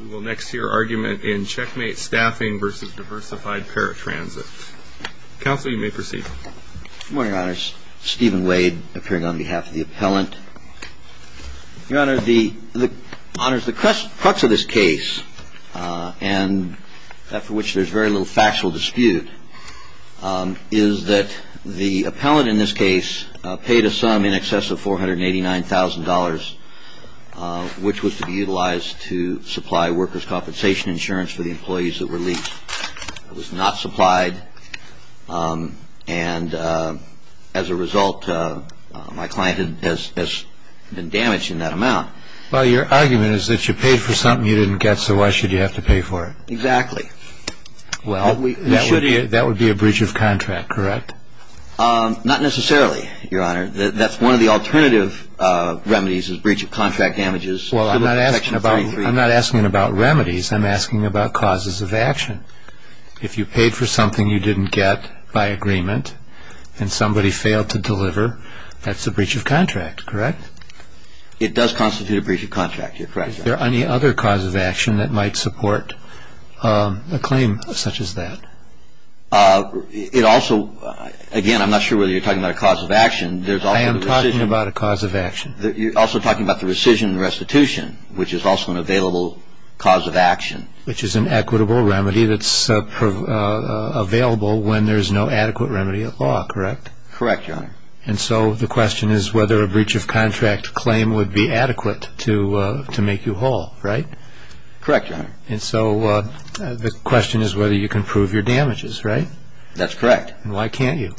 We will next hear argument in Checkmate Staffing v. Diversified Paratransit. Counsel, you may proceed. Good morning, Your Honor. It's Stephen Wade, appearing on behalf of the appellant. Your Honor, the crux of this case, after which there's very little factual dispute, is that the appellant in this case paid a sum in excess of $489,000, which was to be utilized to supply workers' compensation insurance for the employees that were leased. It was not supplied, and as a result, my client has been damaged in that amount. Well, your argument is that you paid for something you didn't get, so why should you have to pay for it? Exactly. That would be a breach of contract, correct? Not necessarily, Your Honor. That's one of the alternative remedies is breach of contract damages. Well, I'm not asking about remedies. I'm asking about causes of action. If you paid for something you didn't get by agreement and somebody failed to deliver, that's a breach of contract, correct? It does constitute a breach of contract, Your Honor. Is there any other cause of action that might support a claim such as that? It also, again, I'm not sure whether you're talking about a cause of action. I am talking about a cause of action. You're also talking about the rescission and restitution, which is also an available cause of action. Which is an equitable remedy that's available when there's no adequate remedy at law, correct? Correct, Your Honor. And so the question is whether a breach of contract claim would be adequate to make you whole, right? Correct, Your Honor. And so the question is whether you can prove your damages, right? That's correct. And why can't you?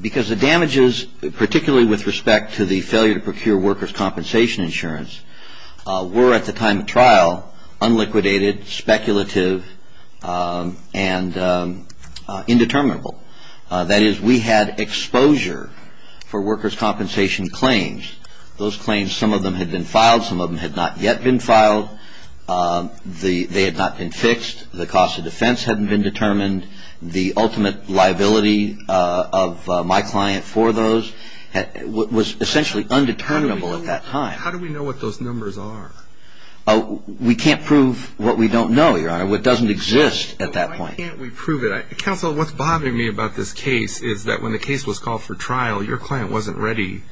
Because the damages, particularly with respect to the failure to procure workers' compensation insurance, were at the time of trial unliquidated, speculative, and indeterminable. That is, we had exposure for workers' compensation claims. Those claims, some of them had been filed. Some of them had not yet been filed. They had not been fixed. The cost of defense hadn't been determined. The ultimate liability of my client for those was essentially undeterminable at that time. How do we know what those numbers are? We can't prove what we don't know, Your Honor. What doesn't exist at that point. Why can't we prove it? Counsel, what's bothering me about this case is that when the case was called for trial, your client wasn't ready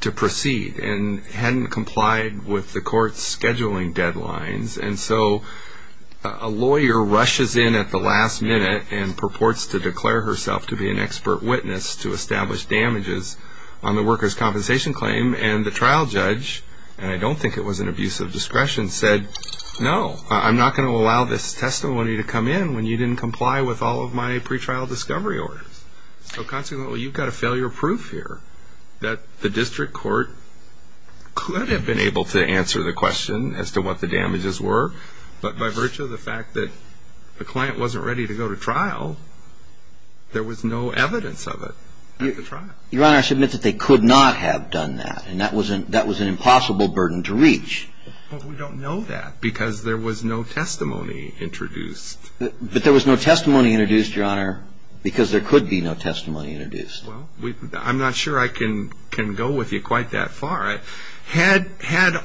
to proceed and hadn't complied with the court's scheduling deadlines. And so a lawyer rushes in at the last minute and purports to declare herself to be an expert witness to establish damages on the workers' compensation claim. And the trial judge, and I don't think it was an abuse of discretion, said, no, I'm not going to allow this testimony to come in when you didn't comply with all of my pretrial discovery orders. So consequently, you've got a failure proof here that the district court could have been able to answer the question as to what the damages were, but by virtue of the fact that the client wasn't ready to go to trial, there was no evidence of it at the trial. Your Honor, I submit that they could not have done that. And that was an impossible burden to reach. But we don't know that because there was no testimony introduced. But there was no testimony introduced, Your Honor, because there could be no testimony introduced. Well, I'm not sure I can go with you quite that far. Had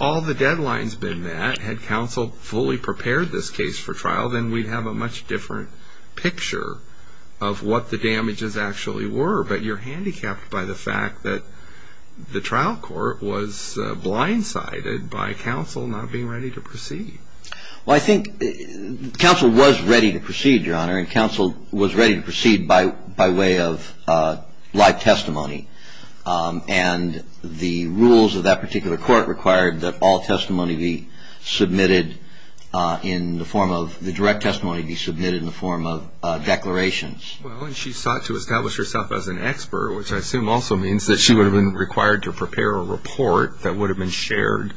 all the deadlines been met, had counsel fully prepared this case for trial, then we'd have a much different picture of what the damages actually were. But you're handicapped by the fact that the trial court was blindsided by counsel not being ready to proceed. Well, I think counsel was ready to proceed, Your Honor, and counsel was ready to proceed by way of live testimony. And the rules of that particular court required that all testimony be submitted in the form of the direct testimony be submitted in the form of declarations. Well, and she sought to establish herself as an expert, which I assume also means that she would have been required to prepare a report that would have been shared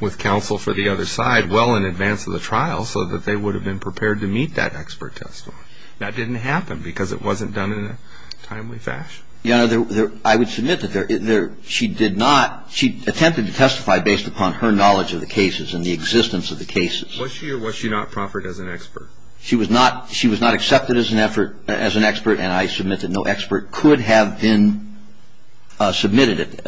with counsel for the other side well in advance of the trial so that they would have been prepared to meet that expert testimony. That didn't happen because it wasn't done in a timely fashion. Your Honor, I would submit that she did not, she attempted to testify based upon her knowledge of the cases and the existence of the cases. Was she or was she not proffered as an expert? She was not accepted as an expert, and I submit that no expert could have been submitted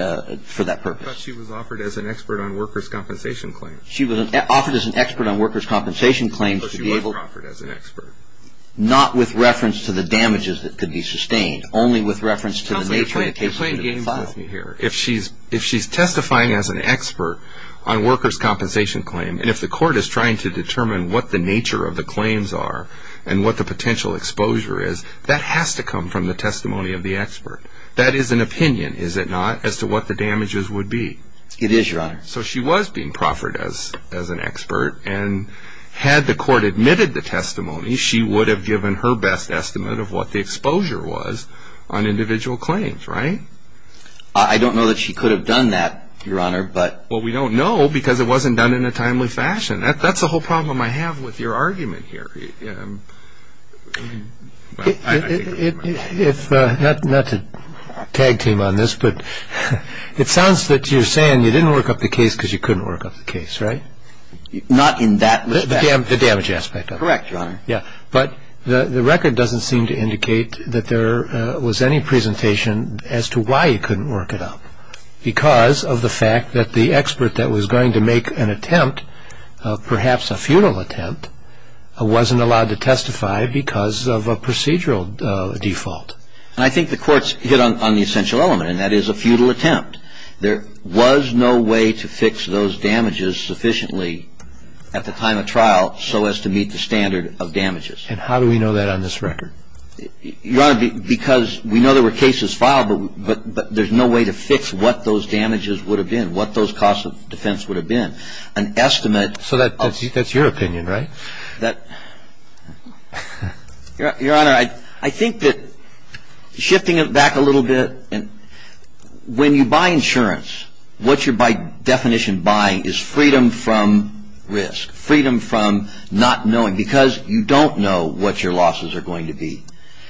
for that purpose. I thought she was offered as an expert on workers' compensation claims. She was offered as an expert on workers' compensation claims to be able to But she wasn't offered as an expert. not with reference to the damages that could be sustained, only with reference to the nature of the cases that could have been filed. Counselor, you're playing games with me here. If she's testifying as an expert on workers' compensation claims, and if the court is trying to determine what the nature of the claims are That is an opinion, is it not, as to what the damages would be? It is, Your Honor. So she was being proffered as an expert, and had the court admitted the testimony, she would have given her best estimate of what the exposure was on individual claims, right? I don't know that she could have done that, Your Honor, but Well, we don't know because it wasn't done in a timely fashion. That's the whole problem I have with your argument here. Not to tag team on this, but it sounds that you're saying you didn't work up the case because you couldn't work up the case, right? Not in that respect. The damage aspect of it. Correct, Your Honor. But the record doesn't seem to indicate that there was any presentation as to why you couldn't work it up, because of the fact that the expert that was going to make an attempt, perhaps a futile attempt, wasn't allowed to testify because of a procedural default. And I think the court's hit on the essential element, and that is a futile attempt. There was no way to fix those damages sufficiently at the time of trial so as to meet the standard of damages. And how do we know that on this record? Your Honor, because we know there were cases filed, but there's no way to fix what those damages would have been, what those costs of defense would have been. So that's your opinion, right? Your Honor, I think that shifting it back a little bit, when you buy insurance, what you're by definition buying is freedom from risk, freedom from not knowing, because you don't know what your losses are going to be.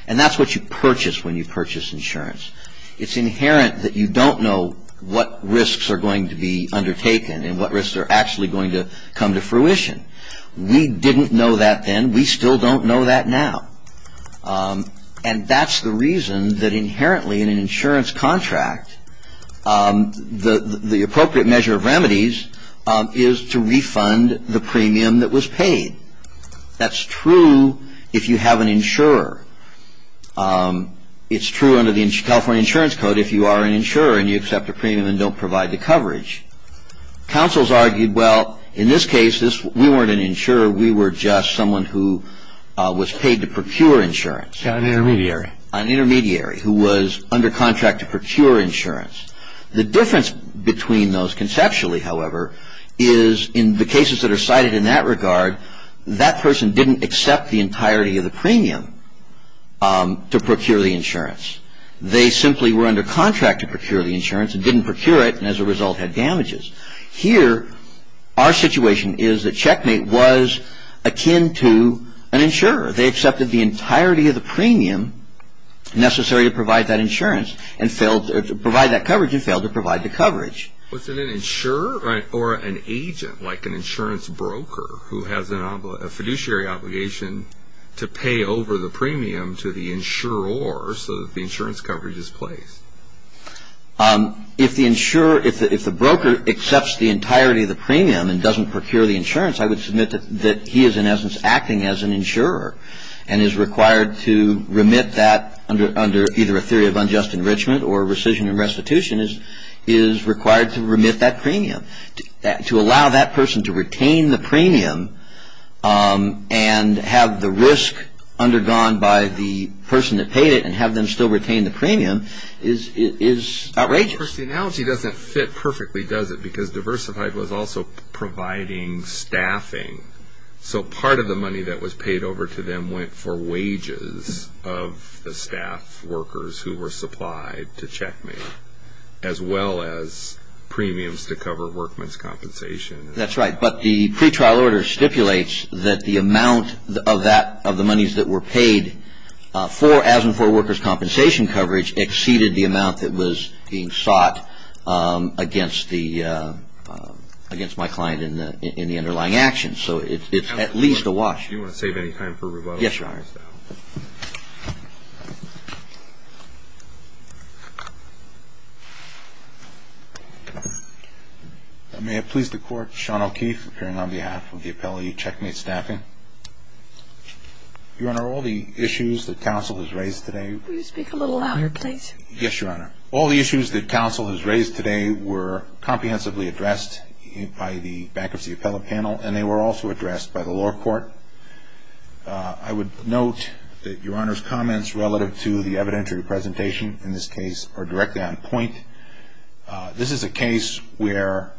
And that's what you purchase when you purchase insurance. It's inherent that you don't know what risks are going to be undertaken and what risks are actually going to come to fruition. We didn't know that then. We still don't know that now. And that's the reason that inherently in an insurance contract, the appropriate measure of remedies is to refund the premium that was paid. That's true if you have an insurer. It's true under the California Insurance Code if you are an insurer and you accept a premium and don't provide the coverage. Counsel's argued, well, in this case, we weren't an insurer. We were just someone who was paid to procure insurance. An intermediary. An intermediary who was under contract to procure insurance. The difference between those conceptually, however, is in the cases that are cited in that regard, that person didn't accept the entirety of the premium to procure the insurance. They simply were under contract to procure the insurance and didn't procure it and as a result had damages. Here, our situation is that Checkmate was akin to an insurer. They accepted the entirety of the premium necessary to provide that insurance and failed to provide that coverage and failed to provide the coverage. Was it an insurer or an agent, like an insurance broker, who has a fiduciary obligation to pay over the premium to the insurer so that the insurance coverage is placed? If the broker accepts the entirety of the premium and doesn't procure the insurance, I would submit that he is, in essence, acting as an insurer and is required to remit that under either a theory of unjust enrichment or rescission and restitution is required to remit that premium. To allow that person to retain the premium and have the risk undergone by the person that paid it and have them still retain the premium is outrageous. The analogy doesn't fit perfectly, does it? Because Diversified was also providing staffing. So part of the money that was paid over to them went for wages of the staff workers who were supplied to checkmate as well as premiums to cover workman's compensation. That's right. But the pretrial order stipulates that the amount of the monies that were paid as and for workers' compensation coverage exceeded the amount that was being sought against my client in the underlying actions. So it's at least a wash. Do you want to save any time for rebuttals? Yes, Your Honor. May it please the Court, Sean O'Keefe, appearing on behalf of the appellee checkmate staffing. Your Honor, all the issues that counsel has raised today Will you speak a little louder, please? Yes, Your Honor. All the issues that counsel has raised today were comprehensively addressed by the bankruptcy appellate panel and they were also addressed by the law court. I would note that Your Honor's comments relative to the evidentiary presentation in this case are directly on point. This is a case where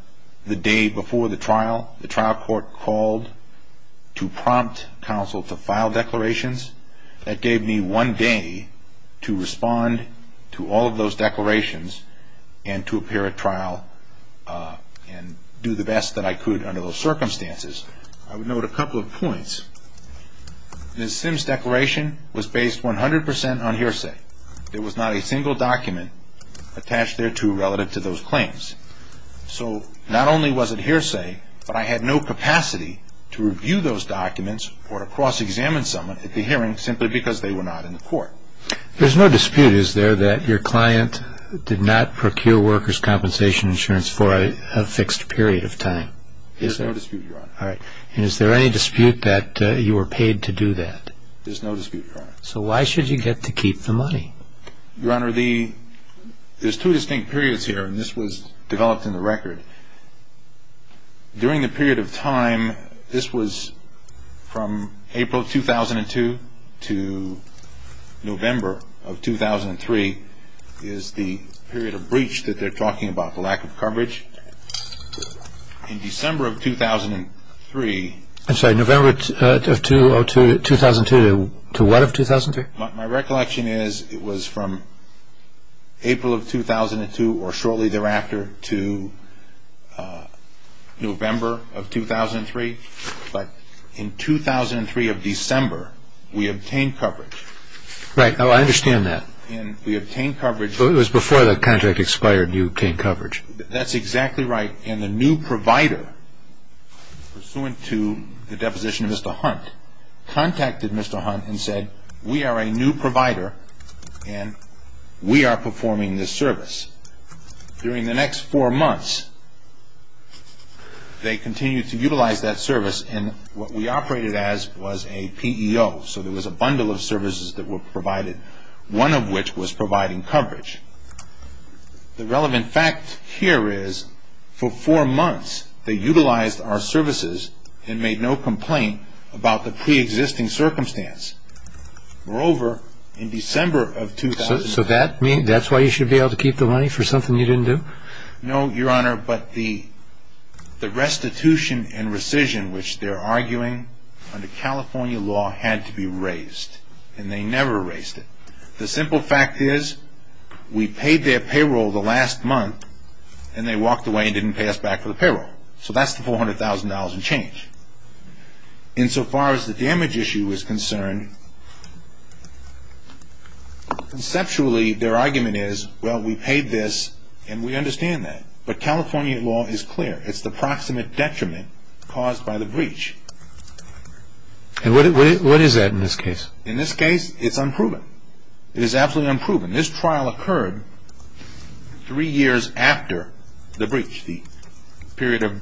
the day before the trial, the trial court called to prompt counsel to file declarations. That gave me one day to respond to all of those declarations and to appear at trial and do the best that I could under those circumstances. I would note a couple of points. Ms. Sims' declaration was based 100% on hearsay. There was not a single document attached thereto relative to those claims. So not only was it hearsay, but I had no capacity to review those documents or to cross-examine someone at the hearing simply because they were not in the court. There's no dispute, is there, that your client did not procure workers' compensation insurance for a fixed period of time? There's no dispute, Your Honor. All right. And is there any dispute that you were paid to do that? There's no dispute, Your Honor. So why should you get to keep the money? Your Honor, there's two distinct periods here and this was developed in the record. During the period of time, this was from April of 2002 to November of 2003 is the period of breach that they're talking about, the lack of coverage. In December of 2003... I'm sorry, November of 2002 to what of 2003? My recollection is it was from April of 2002 or shortly thereafter to November of 2003. But in 2003 of December, we obtained coverage. Right. Oh, I understand that. And we obtained coverage... So it was before the contract expired and you obtained coverage. That's exactly right. And the new provider, pursuant to the deposition of Mr. Hunt, contacted Mr. Hunt and said, we are a new provider and we are performing this service. During the next four months, they continued to utilize that service and what we operated as was a PEO. So there was a bundle of services that were provided, one of which was providing coverage. The relevant fact here is for four months, they utilized our services and made no complaint about the preexisting circumstance. Moreover, in December of 2003... So that's why you should be able to keep the money for something you didn't do? No, Your Honor, but the restitution and rescission, which they're arguing under California law had to be raised, and they never raised it. The simple fact is we paid their payroll the last month and they walked away and didn't pay us back for the payroll. So that's the $400,000 in change. Insofar as the damage issue is concerned, conceptually their argument is, well, we paid this and we understand that. But California law is clear. It's the proximate detriment caused by the breach. And what is that in this case? In this case, it's unproven. It is absolutely unproven. This trial occurred three years after the breach, the period of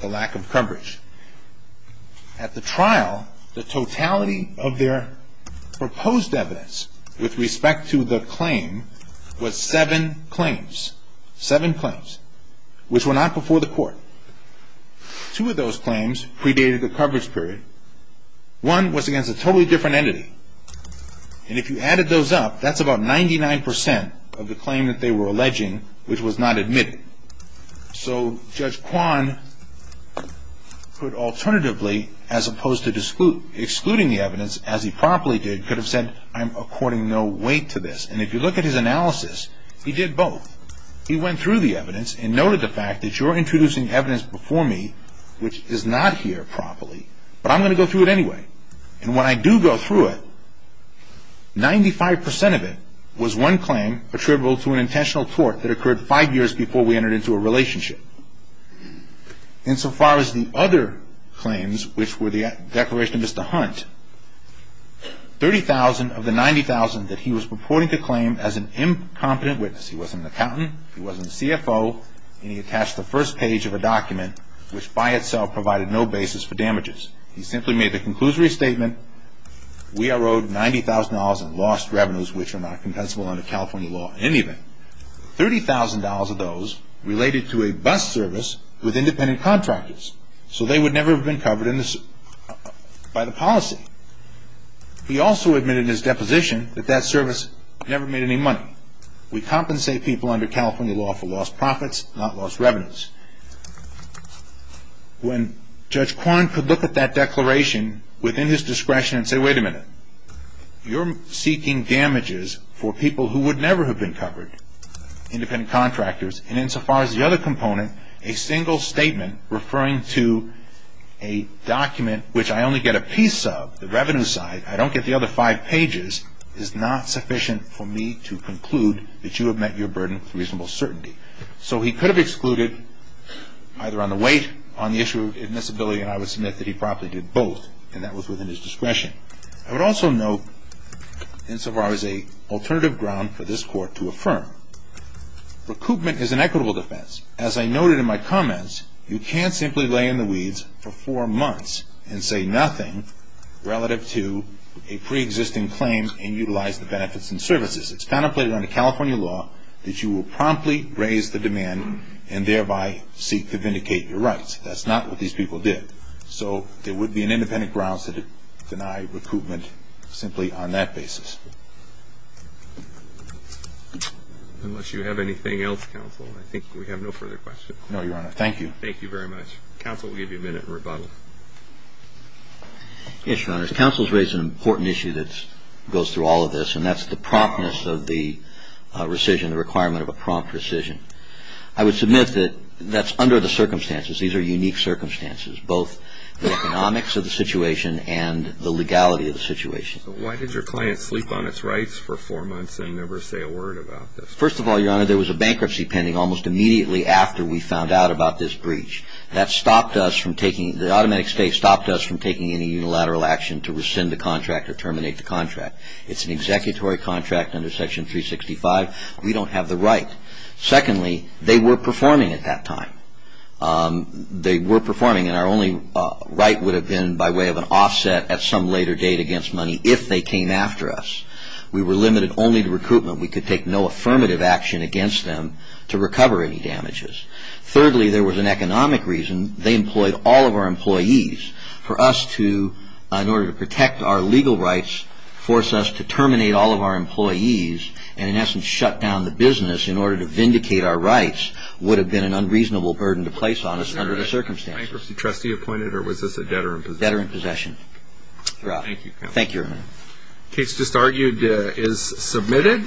the lack of coverage. At the trial, the totality of their proposed evidence with respect to the claim was seven claims, seven claims, which were not before the court. Two of those claims predated the coverage period. One was against a totally different entity. And if you added those up, that's about 99% of the claim that they were alleging, which was not admitted. So Judge Kwan could alternatively, as opposed to excluding the evidence, as he promptly did, could have said, I'm according no weight to this. And if you look at his analysis, he did both. He went through the evidence and noted the fact that you're introducing evidence before me, which is not here promptly, but I'm going to go through it anyway. And when I do go through it, 95% of it was one claim attributable to an intentional tort that occurred five years before we entered into a relationship. Insofar as the other claims, which were the declaration of Mr. Hunt, 30,000 of the 90,000 that he was purporting to claim as an incompetent witness. He wasn't an accountant. He wasn't a CFO. And he attached the first page of a document, which by itself provided no basis for damages. He simply made the conclusory statement, we are owed $90,000 in lost revenues, which are not compensable under California law in any event. $30,000 of those related to a bus service with independent contractors. So they would never have been covered by the policy. He also admitted in his deposition that that service never made any money. We compensate people under California law for lost profits, not lost revenues. When Judge Kwan could look at that declaration within his discretion and say, wait a minute. You're seeking damages for people who would never have been covered, independent contractors. And insofar as the other component, a single statement referring to a document, which I only get a piece of, the revenue side, I don't get the other five pages, is not sufficient for me to conclude that you have met your burden with reasonable certainty. So he could have excluded either on the weight, on the issue of admissibility, and I would submit that he probably did both. And that was within his discretion. I would also note, insofar as an alternative ground for this Court to affirm, recoupment is an equitable defense. As I noted in my comments, you can't simply lay in the weeds for four months and say nothing relative to a preexisting claim and utilize the benefits and services. It's contemplated under California law that you will promptly raise the demand and thereby seek to vindicate your rights. That's not what these people did. So there would be an independent grounds to deny recoupment simply on that basis. Unless you have anything else, Counsel, I think we have no further questions. No, Your Honor. Thank you. Thank you very much. Counsel will give you a minute in rebuttal. Yes, Your Honors. Counsel has raised an important issue that goes through all of this, and that's the promptness of the rescission, the requirement of a prompt rescission. I would submit that that's under the circumstances. These are unique circumstances, both the economics of the situation and the legality of the situation. Why did your client sleep on its rights for four months and never say a word about this? First of all, Your Honor, there was a bankruptcy pending almost immediately after we found out about this breach. That stopped us from taking any unilateral action to rescind the contract or terminate the contract. It's an executory contract under Section 365. We don't have the right. Secondly, they were performing at that time. They were performing, and our only right would have been by way of an offset at some later date against money if they came after us. We were limited only to recoupment. We could take no affirmative action against them to recover any damages. Thirdly, there was an economic reason. They employed all of our employees for us to, in order to protect our legal rights, force us to terminate all of our employees and, in essence, shut down the business in order to vindicate our rights would have been an unreasonable burden to place on us under the circumstances. Was there a bankruptcy trustee appointed, or was this a debtor in possession? Debtor in possession. Thank you. Thank you, Your Honor. The case just argued is submitted.